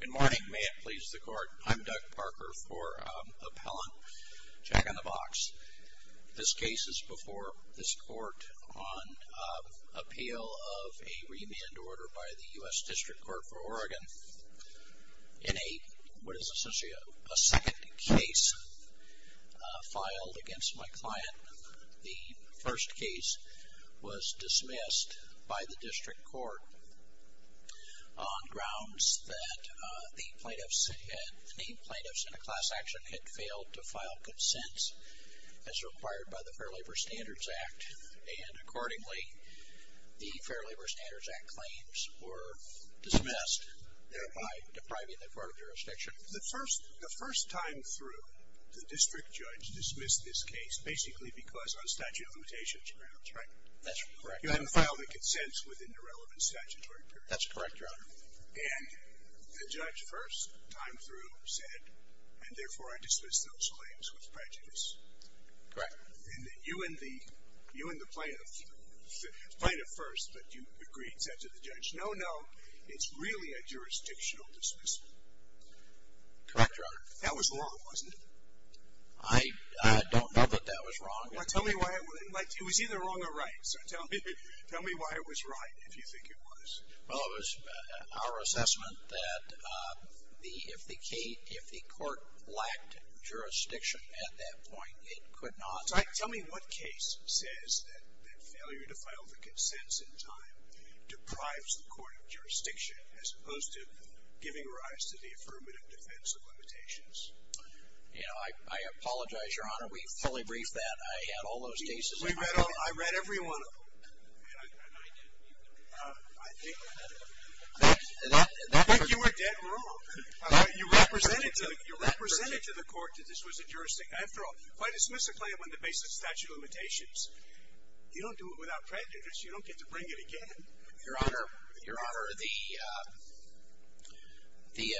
Good morning. May it please the court, I'm Doug Parker for Appellant Jack in the Box. This case is before this court on appeal of a remand order by the U.S. District Court for Oregon. In a, what is essentially a second case filed against my client. The first case was dismissed by the District Court. On grounds that the plaintiffs had, the named plaintiffs in a class action had failed to file consents as required by the Fair Labor Standards Act. And accordingly, the Fair Labor Standards Act claims were dismissed, thereby depriving the court of jurisdiction. The first, the first time through, the district judge dismissed this case, basically because on statute of limitations grounds, right? That's correct. You hadn't filed a consent within the relevant statutory period. That's correct, Your Honor. And the judge first time through said, and therefore I dismiss those claims with prejudice. Correct. And you and the, you and the plaintiff, plaintiff first, but you agreed, said to the judge, no, no, it's really a jurisdictional dismissal. Correct, Your Honor. That was wrong, wasn't it? I, I don't know that that was wrong. Well, tell me why, like it was either wrong or right, so tell me, tell me why it was right, if you think it was. Well, it was our assessment that the, if the case, if the court lacked jurisdiction at that point, it could not. Tell me what case says that, that failure to file the consents in time deprives the court of jurisdiction, as opposed to giving rise to the affirmative defense of limitations. You know, I, I apologize, Your Honor. We fully briefed that. I had all those cases in mind. We read all, I read every one of them. And I, and I, I think, I think you were dead wrong. You represented to, you represented to the court that this was a jurisdictional, after all, if I dismiss a claim on the basis of statute of limitations, you don't do it without prejudice. You don't get to bring it again. Your Honor, Your Honor, the, the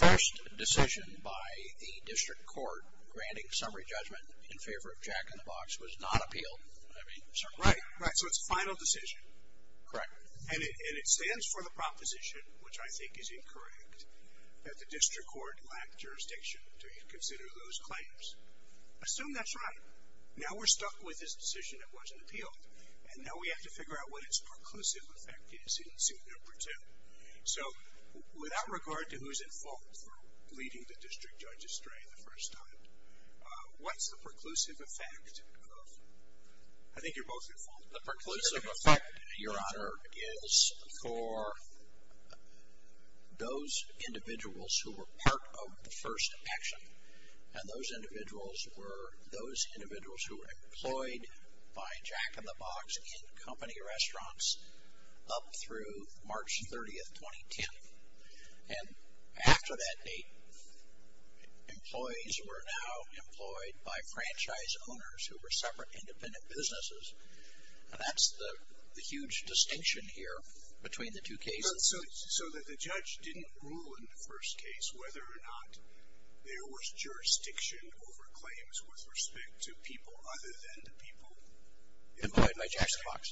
first decision by the district court granting summary judgment in favor of Jack in the Box was not appealed. I mean, certainly not. Right, right. So it's a final decision. Correct. And it, and it stands for the proposition, which I think is incorrect, that the district court lacked jurisdiction to consider those claims. Assume that's right. Now we're stuck with this decision that wasn't appealed. And now we have to figure out what its preclusive effect is in suit number two. So, without regard to who's at fault for leading the district judge astray the first time, what's the preclusive effect of, I think you're both at fault. The preclusive effect, Your Honor, is for those individuals who were part of the first action. And those individuals were those individuals who were employed by Jack in the Box in company restaurants up through March 30th, 2010. And after that date, employees were now employed by franchise owners who were separate independent businesses. And that's the, the huge distinction here between the two cases. So that the judge didn't rule in the first case whether or not there was jurisdiction over claims with respect to people other than the people. Employed by Jack in the Box.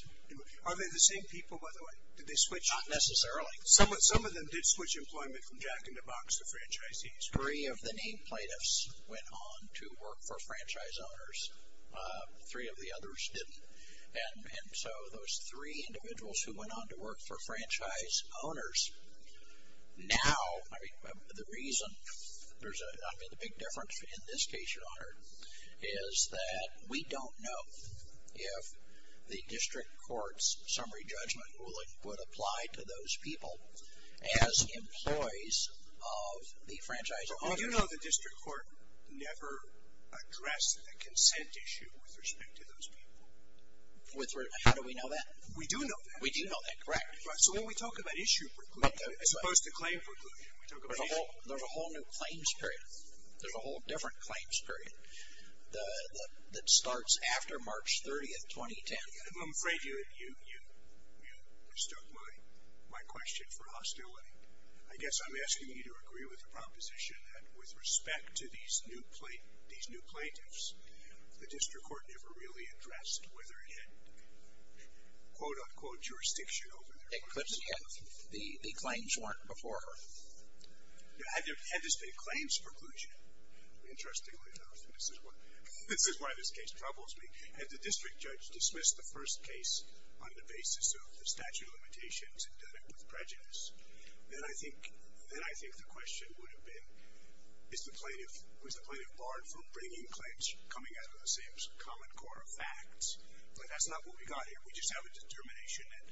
Are they the same people, by the way? Did they switch? Not necessarily. Some of them did switch employment from Jack in the Box to franchisees. Three of the name plaintiffs went on to work for franchise owners. Three of the others didn't. And, and so those three individuals who went on to work for franchise owners. Now, I mean, the reason there's a, I mean, the big difference in this case, Your Honor, is that we don't know if the district court's summary judgment ruling would apply to those people as employees of the franchise owners. Do you know the district court never addressed the consent issue with respect to those people? With respect, how do we know that? We do know that. We do know that, correct. Right, so when we talk about issue precluding, as opposed to claim precluding, we talk about issue. There's a whole new claims period. There's a whole different claims period that starts after March 30th, 2010. I'm afraid you, you, you, you mistook my, my question for a hostile one. I guess I'm asking you to agree with the proposition that with respect to these new, these new plaintiffs, the district court never really addressed whether it had quote, unquote jurisdiction over their. It couldn't have. The, the claims weren't before her. Now, had there, had this been a claims preclusion? Interestingly enough, this is what, this is why this case troubles me. Had the district judge dismissed the first case on the basis of the statute of limitations and done it with prejudice, then I think, then I think the question would have been, is the plaintiff, was the plaintiff barred from bringing claims coming out of the same common core of facts? But that's not what we got here. We just have a determination that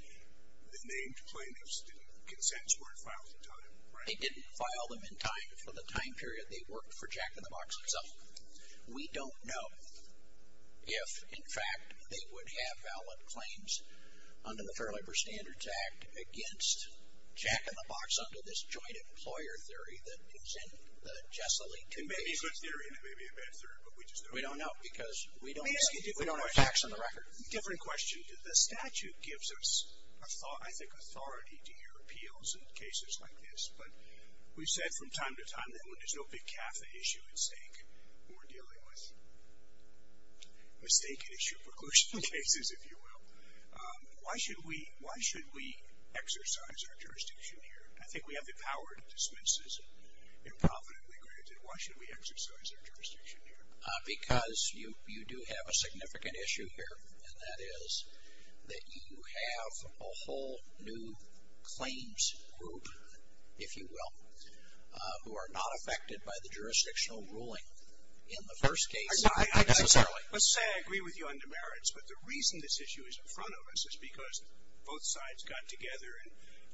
the named plaintiffs didn't, consents weren't filed in time, right? They didn't file them in time for the time period they worked for Jack in the Box itself. We don't know if, in fact, they would have valid claims under the Fair Labor Standards Act against Jack in the Box under this joint employer theory that is in the Jessilee two cases. It may be a good theory and it may be a bad theory, but we just don't know. We don't know because we don't have facts on the record. Let me ask you a different question. A different question. The statute gives us, I think, authority to hear appeals in cases like this, but we've said from time to time that when there's no big CAFA issue at stake, we're dealing with mistaken issue preclusion cases, if you will. Why should we exercise our jurisdiction here? I think we have the power to dismiss this and profitably grant it. Why should we exercise our jurisdiction here? Because you do have a significant issue here, and that is that you have a whole new claims group, if you will, who are not affected by the jurisdictional ruling in the first case. Let's say I agree with you on demerits, but the reason this issue is in front of us is because both sides got together and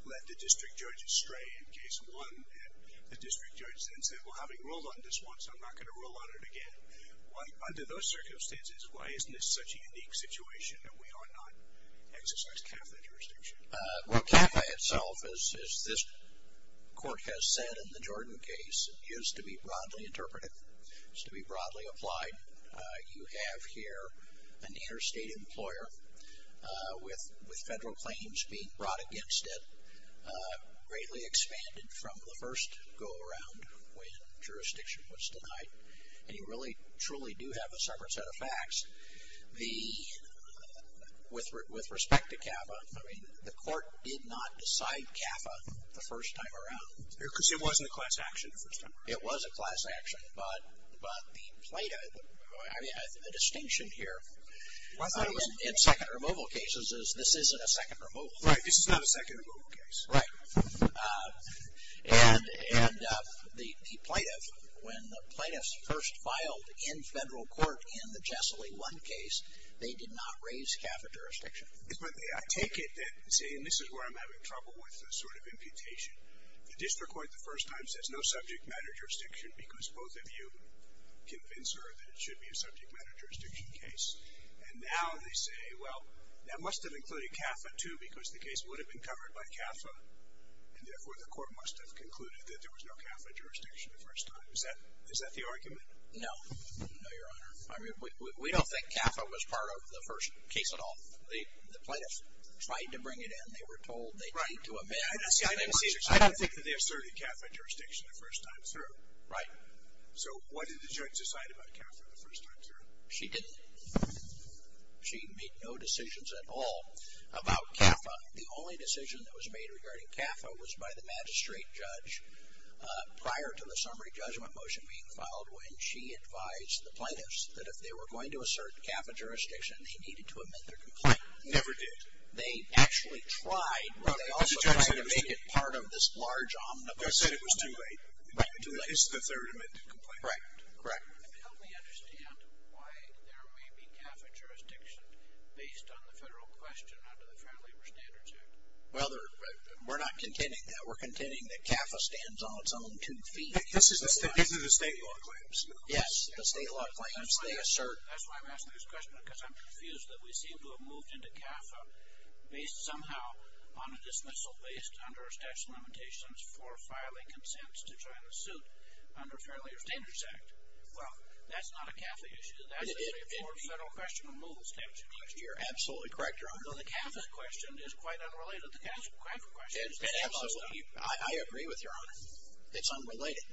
let the district judges stray in case one, and the district judges then said, well, having ruled on this once, I'm not going to rule on it again. Under those circumstances, why isn't this such a unique situation that we ought not exercise CAFA jurisdiction? Well, CAFA itself, as this court has said in the Jordan case, is to be broadly interpreted, is to be broadly applied. You have here an interstate employer with federal claims being brought against it, greatly expanded from the first go-around when jurisdiction was denied, and you really truly do have a separate set of facts. With respect to CAFA, I mean, the court did not decide CAFA the first time around. Because it wasn't a class action the first time around. It was a class action, but the plaintiff, I mean, the distinction here in second removal cases is this isn't a second removal. Right. This is not a second removal case. Right. And the plaintiff, when the plaintiffs first filed in federal court in the Jessilee 1 case, they did not raise CAFA jurisdiction. I take it that, see, and this is where I'm having trouble with sort of imputation. The district court the first time says no subject matter jurisdiction because both of you convince her that it should be a subject matter jurisdiction case. And now they say, well, that must have included CAFA too because the case would have been covered by CAFA, and therefore the court must have concluded that there was no CAFA jurisdiction the first time. Is that the argument? No. No, Your Honor. I mean, we don't think CAFA was part of the first case at all. The plaintiffs tried to bring it in. They were told they had to amend it. I don't think that they asserted CAFA jurisdiction the first time through. Right. So what did the judge decide about CAFA the first time through? She didn't. She made no decisions at all about CAFA. The only decision that was made regarding CAFA was by the magistrate judge prior to the summary judgment motion being filed when she advised the plaintiffs that if they were going to assert CAFA jurisdiction, they needed to amend their complaint. Right. Never did. They actually tried, but they also tried to make it part of this large omnibus. The judge said it was too late. Right, too late. It's the third amendment complaint. Right. Correct. Help me understand why there may be CAFA jurisdiction based on the federal question under the Fair Labor Standards Act. Well, we're not contending that. We're contending that CAFA stands on its own two feet. These are the state law claims. Yes, the state law claims. That's why I'm asking this question because I'm confused that we seem to have moved into CAFA based somehow on a dismissal based under a statute of limitations for filing consents to try to suit under the Fair Labor Standards Act. Well, that's not a CAFA issue. That's a federal question. You're absolutely correct, Your Honor. Though the CAFA question is quite unrelated. I agree with Your Honor. It's unrelated.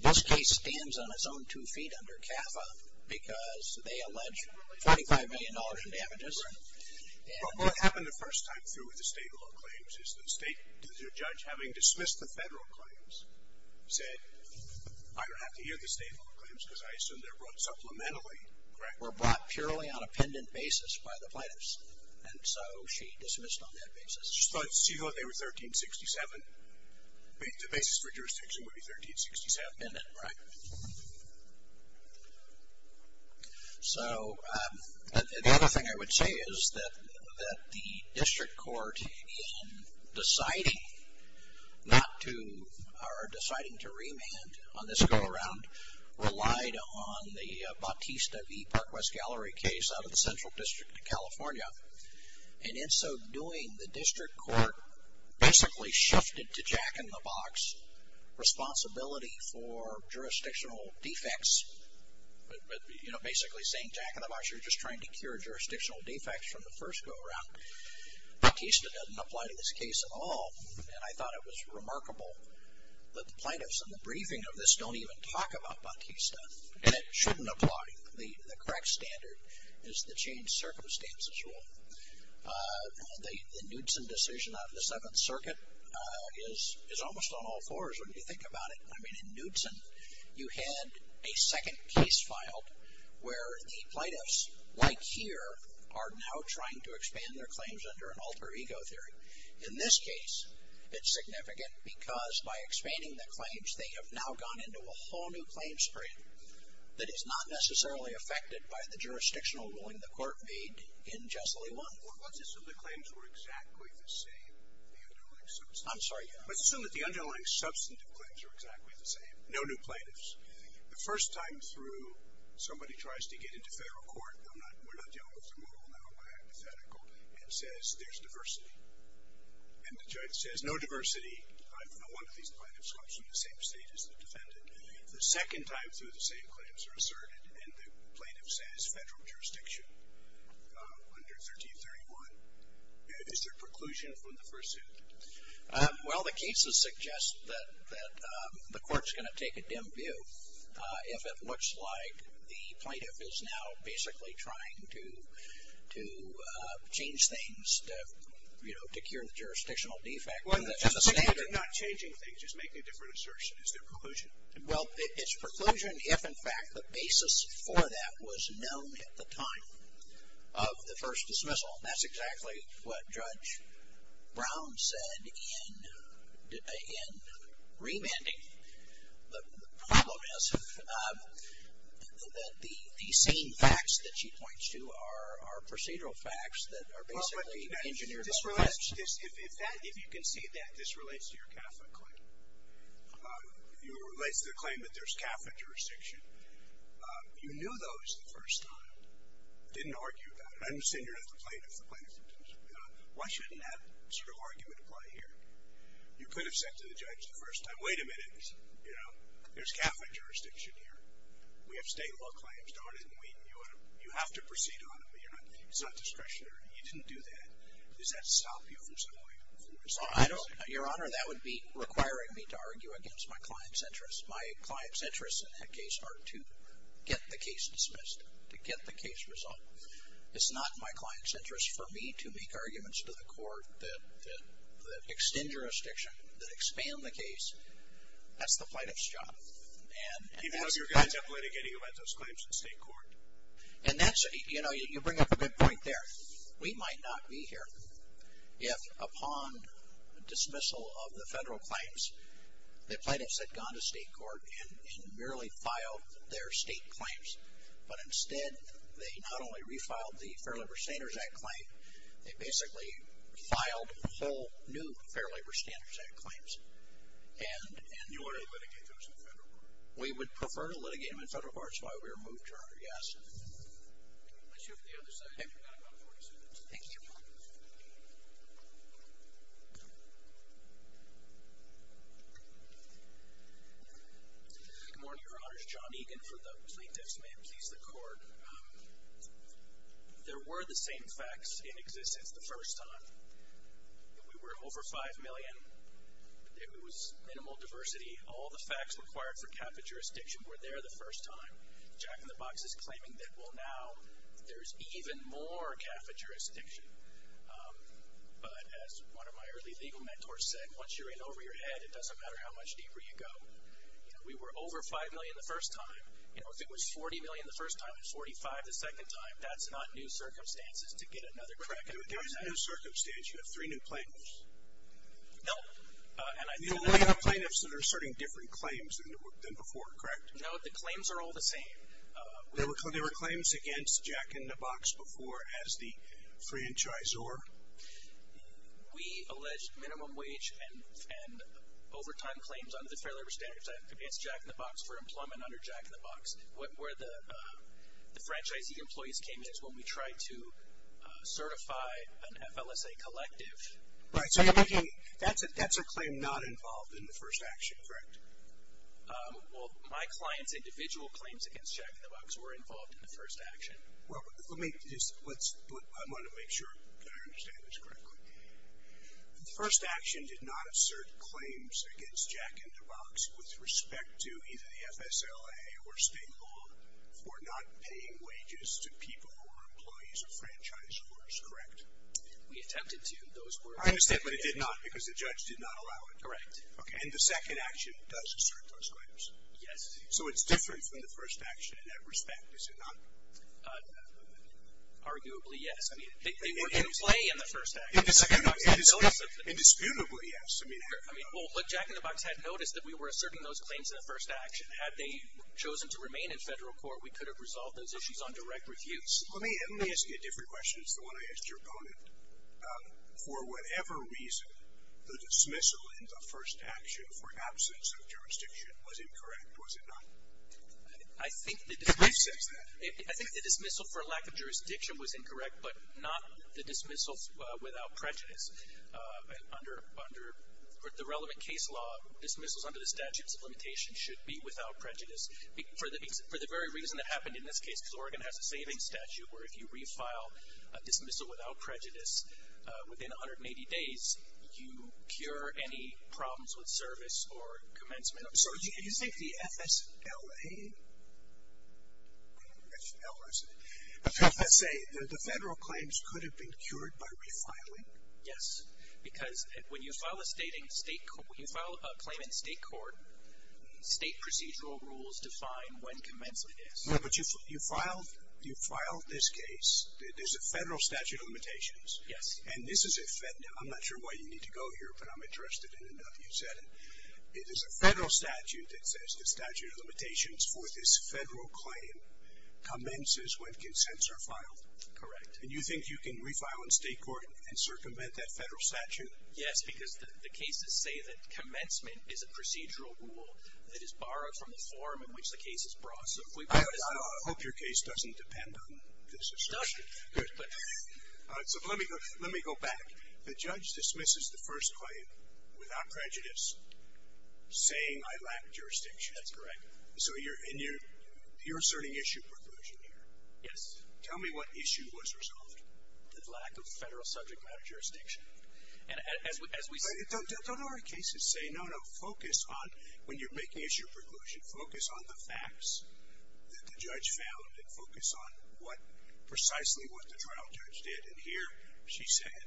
This case stands on its own two feet under CAFA because they allege $45 million in damages. Right. What happened the first time through with the state law claims is that the state, due to the judge having dismissed the federal claims, said, I don't have to hear the state law claims because I assume they're brought supplementary. Correct? Were brought purely on a pendant basis by the plaintiffs. And so she dismissed on that basis. She thought they were 1367. The basis for jurisdiction would be 1367. Pendant, right. So the other thing I would say is that the district court in deciding not to, or deciding to remand on this go-around relied on the Bautista v. Park West Gallery case out of the Central District of California. And in so doing, the district court basically shifted to jack-in-the-box responsibility for jurisdictional defects, basically saying jack-in-the-box, you're just trying to cure jurisdictional defects from the first go-around. Bautista doesn't apply to this case at all. And I thought it was remarkable that the plaintiffs in the briefing of this don't even talk about Bautista. And it shouldn't apply. The correct standard is the changed circumstances rule. The Knudsen decision out of the Seventh Circuit is almost on all fours when you think about it. I mean, in Knudsen, you had a second case filed where the plaintiffs, like here, are now trying to expand their claims under an alter ego theory. In this case, it's significant because by expanding the claims, they have now gone into a whole new claims period that is not necessarily affected by the jurisdictional ruling the court made in Jesley 1. Well, let's assume the claims were exactly the same, the underlying substantive. I'm sorry? Let's assume that the underlying substantive claims are exactly the same. No new plaintiffs. The first time through, somebody tries to get into federal court, we're not dealing with the rule now by hypothetical, and says there's diversity. And the judge says, no diversity. One of these plaintiffs comes from the same state as the defendant. The second time through, the same claims are asserted, and the plaintiff says federal jurisdiction under 1331. Is there preclusion from the first suit? Well, the cases suggest that the court's going to take a dim view if it looks like the plaintiff is now basically trying to change things, to cure the jurisdictional defect. Well, not changing things, just making a different assertion. Is there preclusion? Well, it's preclusion if, in fact, the basis for that was known at the time of the first dismissal. That's exactly what Judge Brown said in remanding. The problem is that the same facts that she points to are procedural facts that are basically engineered offense. If you can see that, this relates to your Catholic claim. It relates to the claim that there's Catholic jurisdiction. You knew those the first time. Didn't argue that. I understand you're not the plaintiff. Why shouldn't that sort of argument apply here? You could have said to the judge the first time, wait a minute. There's Catholic jurisdiction here. We have state law claims. You have to proceed on them. It's not discretionary. You didn't do that. Does that stop you from going forward? Your Honor, that would be requiring me to argue against my client's interests. My client's interests in that case are to get the case dismissed, to get the case resolved. It's not my client's interest for me to make arguments to the court that extend jurisdiction, that expand the case. That's the plaintiff's job. Even though you're going to have litigating events, those claims should stay in court. You bring up a good point there. We might not be here if, upon dismissal of the federal claims, the plaintiffs had gone to state court and merely filed their state claims. But instead, they not only refiled the Fair Labor Standards Act claim, they basically filed whole new Fair Labor Standards Act claims. And you would have litigated those in federal court? We would prefer to litigate them in federal court. That's why we were moved, Your Honor, yes. Let's move to the other side. You've got about 40 seconds. Thank you, Your Honor. Good morning, Your Honors. John Egan for the plaintiffs. May it please the court. There were the same facts in existence the first time. We were over 5 million. It was minimal diversity. All the facts required for cap and jurisdiction were there the first time. Jack in the Box is claiming that, well, now there's even more cap and jurisdiction. But as one of my early legal mentors said, once you're in over your head, it doesn't matter how much deeper you go. We were over 5 million the first time. If it was 40 million the first time and 45 the second time, that's not new circumstances to get another crack at it. There is no circumstance. You have three new plaintiffs. No. You only have plaintiffs that are asserting different claims than before, correct? No, the claims are all the same. There were claims against Jack in the Box before as the franchisor? We alleged minimum wage and overtime claims under the Fair Labor Standards Act against Jack in the Box for employment under Jack in the Box. Where the franchisee employees came in is when we tried to certify an FLSA collective. Right. So that's a claim not involved in the first action, correct? Well, my client's individual claims against Jack in the Box were involved in the first action. Well, let me just, I want to make sure that I understand this correctly. The first action did not assert claims against Jack in the Box with respect to either the FSLA or state law for not paying wages to people who were employees of franchisors, correct? We attempted to. I understand, but it did not because the judge did not allow it. Correct. And the second action does assert those claims. Yes. So it's different from the first action in that respect, is it not? Arguably, yes. They were in play in the first action. Indisputably, yes. Well, Jack in the Box had noticed that we were asserting those claims in the first action. Had they chosen to remain in federal court, we could have resolved those issues on direct refuse. Let me ask you a different question. It's the one I asked your opponent. For whatever reason, the dismissal in the first action for absence of jurisdiction was incorrect, was it not? I think the dismissal for lack of jurisdiction was incorrect, but not the dismissal without prejudice. Under the relevant case law, dismissals under the statutes of limitation should be without prejudice. For the very reason that happened in this case, Oregon has a savings statute where if you refile a dismissal without prejudice, within 180 days, you cure any problems with service or commencement. So do you think the FSLA, F-L-S-A, the federal claims could have been cured by refiling? Yes, because when you file a claim in state court, state procedural rules define when commencement is. But you filed this case. There's a federal statute of limitations. Yes. I'm not sure why you need to go here, but I'm interested in it now that you said it. It is a federal statute that says the statute of limitations for this federal claim commences when consents are filed. Correct. And you think you can refile in state court and circumvent that federal statute? Yes, because the cases say that commencement is a procedural rule that is borrowed from the form in which the case is brought. I hope your case doesn't depend on this assertion. It doesn't. All right, so let me go back. The judge dismisses the first claim without prejudice, saying I lack jurisdiction. That's correct. So you're asserting issue preclusion here. Yes. Tell me what issue was resolved. The lack of federal subject matter jurisdiction. But don't our cases say, no, no, focus on when you're making issue preclusion, focus on the facts that the judge found, and focus on precisely what the trial judge did. And here she said,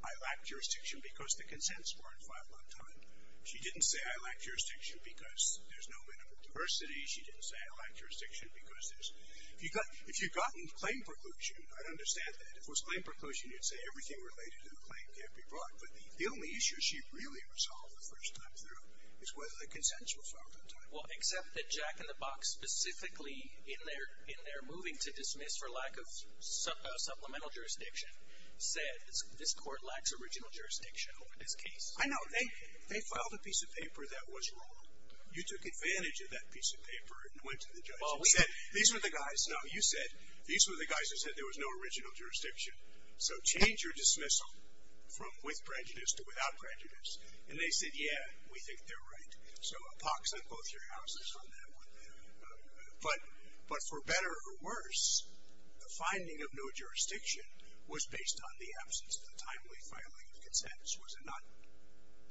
I lack jurisdiction because the consents weren't filed on time. She didn't say I lack jurisdiction because there's no minimum diversity. She didn't say I lack jurisdiction because there's – if you've gotten claim preclusion, I'd understand that. If it was claim preclusion, you'd say everything related to the claim can't be brought. Well, except that Jack in the Box, specifically in their moving to dismiss for lack of supplemental jurisdiction, said this court lacks original jurisdiction over this case. I know. They filed a piece of paper that was wrong. You took advantage of that piece of paper and went to the judge and said these were the guys – no, you said these were the guys who said there was no original jurisdiction. So change your dismissal from with prejudice to without prejudice. And they said, yeah, we think they're right. So a pox on both your houses on that one. But for better or worse, the finding of no jurisdiction was based on the absence of the timely filing of consents, was it not?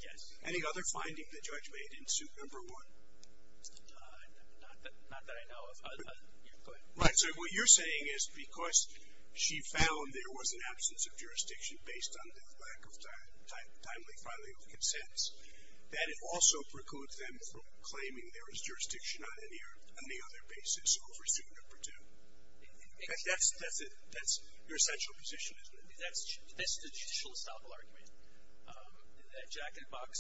Yes. Any other finding the judge made in suit number one? Not that I know of. Go ahead. Right. So what you're saying is because she found there was an absence of jurisdiction based on the lack of timely filing of consents, that it also precludes them from claiming there is jurisdiction on any other basis over suit number two. That's your essential position, isn't it? That's the judicial estoppel argument that Jack in the Box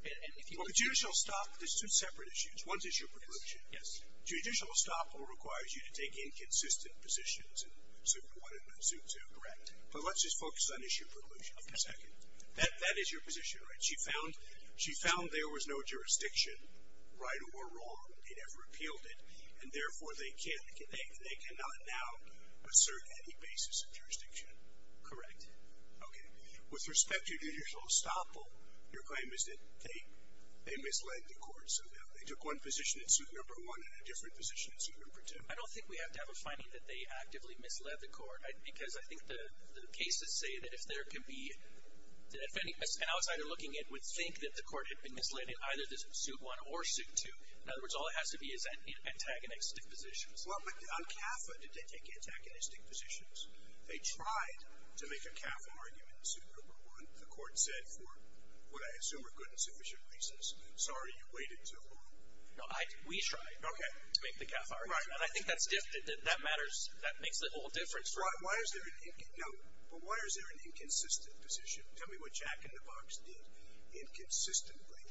– Well, the judicial estoppel, there's two separate issues. One is your preclusion. Yes. Judicial estoppel requires you to take inconsistent positions in suit one and in suit two, correct? But let's just focus on issue preclusion for a second. That is your position, right? She found there was no jurisdiction, right or wrong, and have repealed it, and therefore they cannot now assert any basis of jurisdiction. Correct. Okay. With respect to judicial estoppel, your claim is that they misled the court. So they took one position in suit number one and a different position in suit number two. I don't think we have to have a finding that they actively misled the court because I think the cases say that if there can be – an outsider looking in would think that the court had been misled in either suit one or suit two. In other words, all it has to be is antagonistic positions. Well, but on CAFA, did they take antagonistic positions? They tried to make a CAFA argument in suit number one. The court said for what I assume are good and sufficient reasons, sorry, you waited too long. No, we tried to make the CAFA argument. I think that makes the whole difference. But why is there an inconsistent position? Tell me what Jack in the Box did inconsistently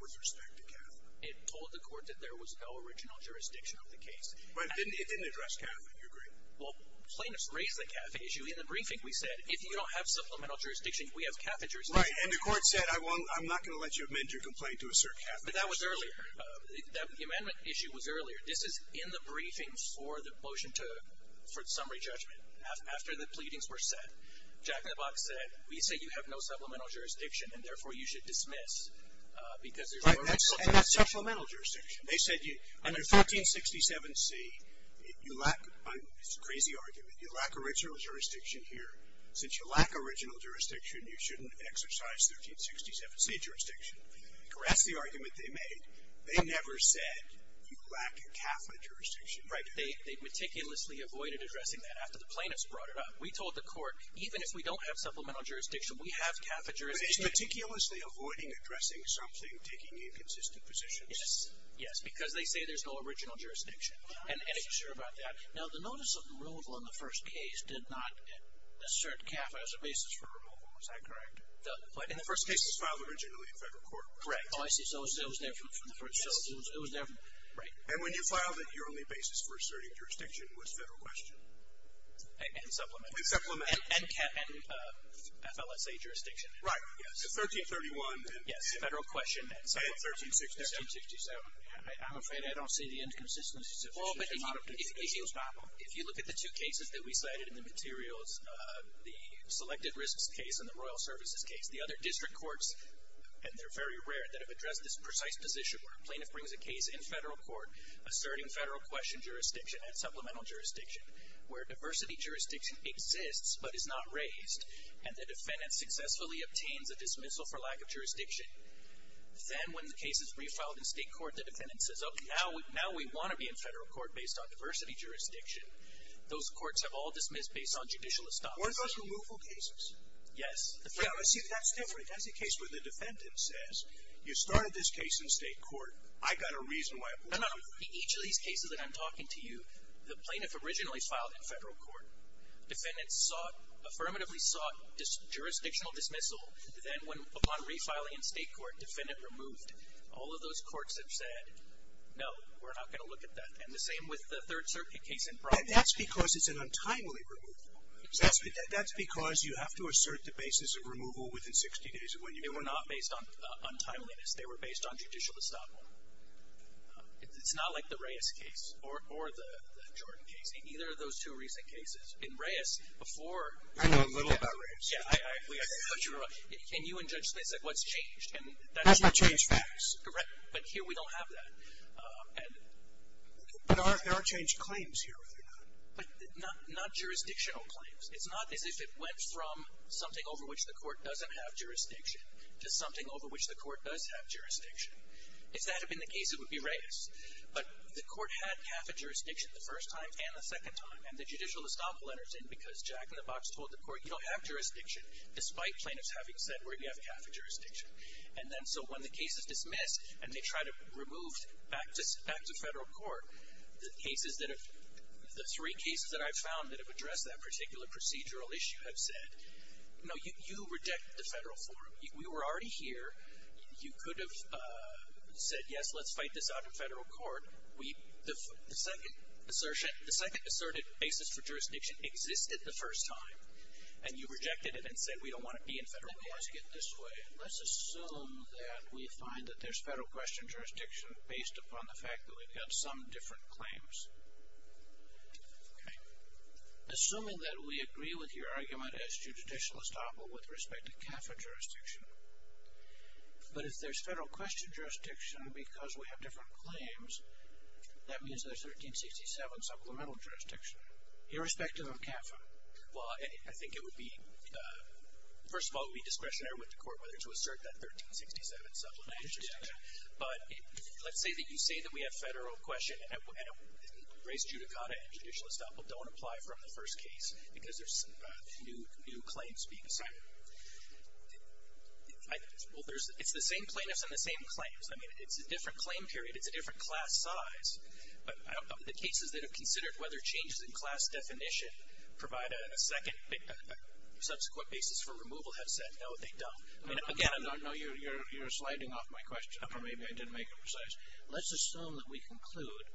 with respect to CAFA. It told the court that there was no original jurisdiction of the case. But it didn't address CAFA, do you agree? Well, plaintiffs raised the CAFA issue. In the briefing we said, if you don't have supplemental jurisdiction, we have CAFA jurisdiction. Right, and the court said, I'm not going to let you amend your complaint to assert CAFA. But that was earlier. The amendment issue was earlier. This is in the briefing for the motion for the summary judgment. After the pleadings were set, Jack in the Box said, we say you have no supplemental jurisdiction, and therefore you should dismiss because there's no original jurisdiction. Right, and that's supplemental jurisdiction. They said under 1367C, you lack, it's a crazy argument, you lack original jurisdiction here. Since you lack original jurisdiction, you shouldn't exercise 1367C jurisdiction. That's the argument they made. They never said you lack CAFA jurisdiction. Right, they meticulously avoided addressing that after the plaintiffs brought it up. We told the court, even if we don't have supplemental jurisdiction, we have CAFA jurisdiction. But it's meticulously avoiding addressing something, taking inconsistent positions. Yes, because they say there's no original jurisdiction. And are you sure about that? Now, the notice of removal in the first case did not assert CAFA as a basis for removal. Is that correct? In the first case, it was filed originally in federal court. Correct. Oh, I see. So it was different from the first case. It was different. Right. And when you filed it, your only basis for asserting jurisdiction was federal question. And supplemental. And supplemental. And FLSA jurisdiction. Right, yes. 1331. Yes, federal question and supplemental. And 1367. 1367. I'm afraid I don't see the inconsistencies. Well, but if you look at the two cases that we cited in the materials, the selected risks case and the royal services case, the other district courts, and they're very rare, that have addressed this precise position where a plaintiff brings a case in federal court asserting federal question jurisdiction and supplemental jurisdiction where diversity jurisdiction exists but is not raised, and the defendant successfully obtains a dismissal for lack of jurisdiction, then when the case is refiled in state court, the defendant says, oh, now we want to be in federal court based on diversity jurisdiction. Those courts have all dismissed based on judicial establishment. What about removal cases? Yes. See, that's different. That's a case where the defendant says, you started this case in state court. I've got a reason why I'm removing it. No, no. In each of these cases that I'm talking to you, the plaintiff originally filed in federal court. Defendants sought, affirmatively sought, jurisdictional dismissal. Then upon refiling in state court, defendant removed. All of those courts have said, no, we're not going to look at that. And the same with the Third Circuit case in Brock. That's because it's an untimely removal. That's because you have to assert the basis of removal within 60 days of when you. They were not based on timeliness. They were based on judicial establishment. It's not like the Reyes case or the Jordan case. Neither of those two recent cases. In Reyes, before. I know a little about Reyes. Can you and Judge Smith say what's changed? That's not changed facts. Correct. But here we don't have that. There are changed claims here. But not jurisdictional claims. It's not as if it went from something over which the court doesn't have jurisdiction to something over which the court does have jurisdiction. If that had been the case, it would be Reyes. But the court had CAFA jurisdiction the first time and the second time. And the judicial establishment was in because Jack in the Box told the court, you don't have jurisdiction, despite plaintiffs having said where you have CAFA jurisdiction. And then so when the case is dismissed and they try to remove back to federal court, the three cases that I've found that have addressed that particular procedural issue have said, no, you reject the federal forum. We were already here. You could have said, yes, let's fight this out in federal court. The second asserted basis for jurisdiction existed the first time. And you rejected it and said we don't want it to be in federal court. Let me ask it this way. Let's assume that we find that there's federal question jurisdiction based upon the fact that we've got some different claims. Assuming that we agree with your argument as to judicial estoppel with respect to CAFA jurisdiction, but if there's federal question jurisdiction because we have different claims, that means there's 1367 supplemental jurisdiction, irrespective of CAFA. Well, I think it would be, first of all, it would be discretionary with the court whether to assert that 1367 supplemental jurisdiction. But let's say that you say that we have federal question and grace judicata and judicial estoppel don't apply from the first case because there's new claims being assigned. Well, it's the same plaintiffs and the same claims. I mean, it's a different claim period. It's a different class size. The cases that have considered whether changes in class definition provide a second, subsequent basis for removal have said, no, they don't. No, you're sliding off my question, or maybe I didn't make it precise. Let's assume that we conclude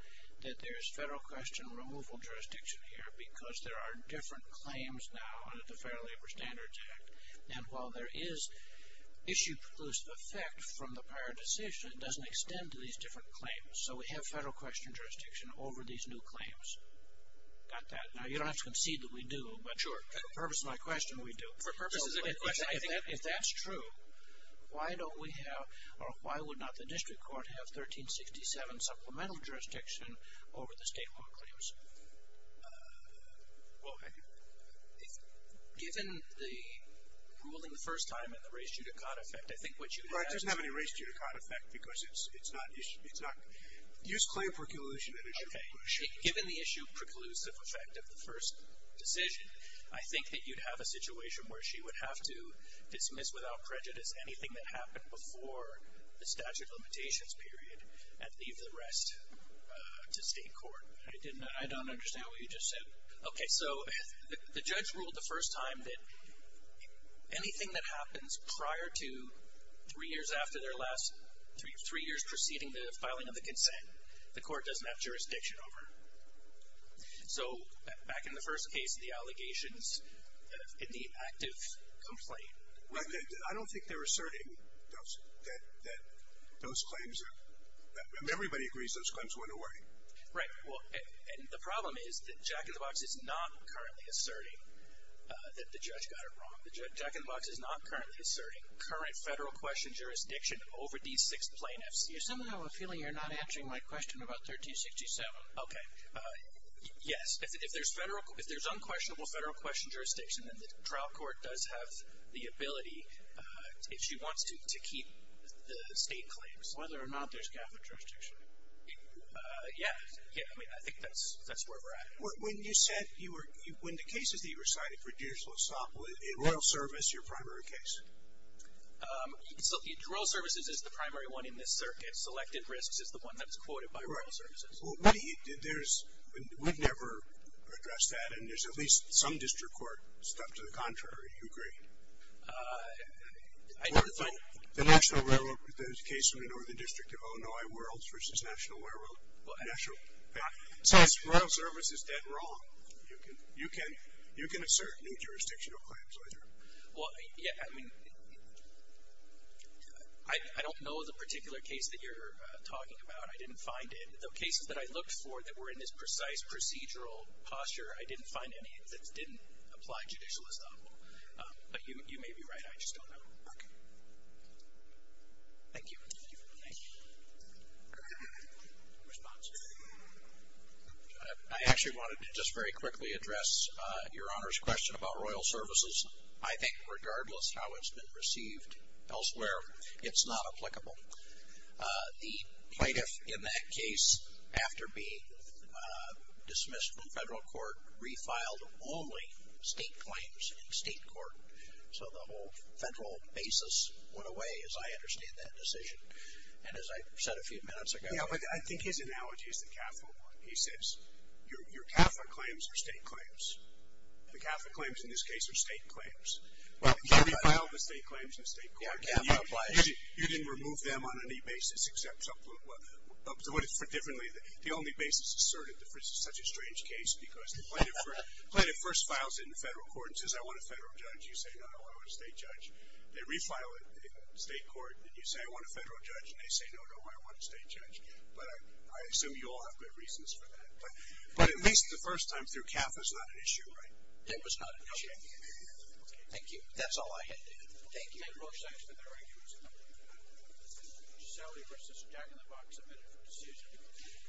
that there's federal question removal jurisdiction here because there are different claims now under the Fair Labor Standards Act. And while there is issue plus effect from the prior decision, it doesn't extend to these different claims. So we have federal question jurisdiction over these new claims. Got that. Now, you don't have to concede that we do, but for the purpose of my question, we do. For purposes of my question, if that's true, why don't we have or why would not the district court have 1367 supplemental jurisdiction over the state law claims? Well, given the ruling the first time and the race judicata effect, I think what you would have is Well, it doesn't have any race judicata effect because it's not issue. Use claim preclusion and issue preclusion. Okay. Given the issue preclusive effect of the first decision, I think that you'd have a situation where she would have to dismiss without prejudice anything that happened before the statute of limitations period and leave the rest to state court. I don't understand what you just said. Okay. So the judge ruled the first time that anything that happens prior to three years after their last three years preceding the filing of the consent, the court doesn't have jurisdiction over. So back in the first case, the allegations in the active complaint. I don't think they're asserting that those claims, everybody agrees those claims went away. Right. And the problem is that Jack in the Box is not currently asserting that the judge got it wrong. Jack in the Box is not currently asserting current federal question jurisdiction over D6 plaintiffs. I somehow have a feeling you're not answering my question about 1367. Okay. Yes. If there's unquestionable federal question jurisdiction, then the trial court does have the ability if she wants to, to keep the state claims. Whether or not there's GAFA jurisdiction. Yeah. Yeah. I mean, I think that's where we're at. When you said you were – when the cases that you recited for Dears Losopolis, in royal service, your primary case? Royal services is the primary one in this circuit. Selected risks is the one that's quoted by royal services. Right. Well, we've never addressed that, and there's at least some district court stuff to the contrary. Do you agree? I don't. The national railroad, the case in the northern district of Illinois, Worlds versus National Railroad. Well, I – Royal service is dead wrong. You can assert new jurisdictional claims either. Well, yeah, I mean, I don't know the particular case that you're talking about. I didn't find it. The cases that I looked for that were in this precise procedural posture, I didn't find any that didn't apply judicial estoppel. But you may be right. I just don't know. Okay. Thank you. Thank you for the response. I actually wanted to just very quickly address Your Honor's question about royal services. I think regardless how it's been received elsewhere, it's not applicable. The plaintiff in that case, after being dismissed from federal court, refiled only state claims in state court. So the whole federal basis went away, as I understand that decision. And as I said a few minutes ago – Yeah, but I think his analogy is the CAFA one. He says your CAFA claims are state claims. The CAFA claims in this case are state claims. You refiled the state claims in the state court. Yeah, CAFA applies. You didn't remove them on any basis except for – the only basis asserted is such a strange case because the plaintiff first files it in federal court and says, I want a federal judge. You say, no, no, I want a state judge. They refile it in state court and you say, I want a federal judge. And they say, no, no, I want a state judge. But I assume you all have good reasons for that. But at least the first time through, CAFA's not an issue, right? It was not an issue. Okay. Thank you. That's all I had to do. Thank you. Thank you very much. Thank you. Thank you. Thank you. Thank you.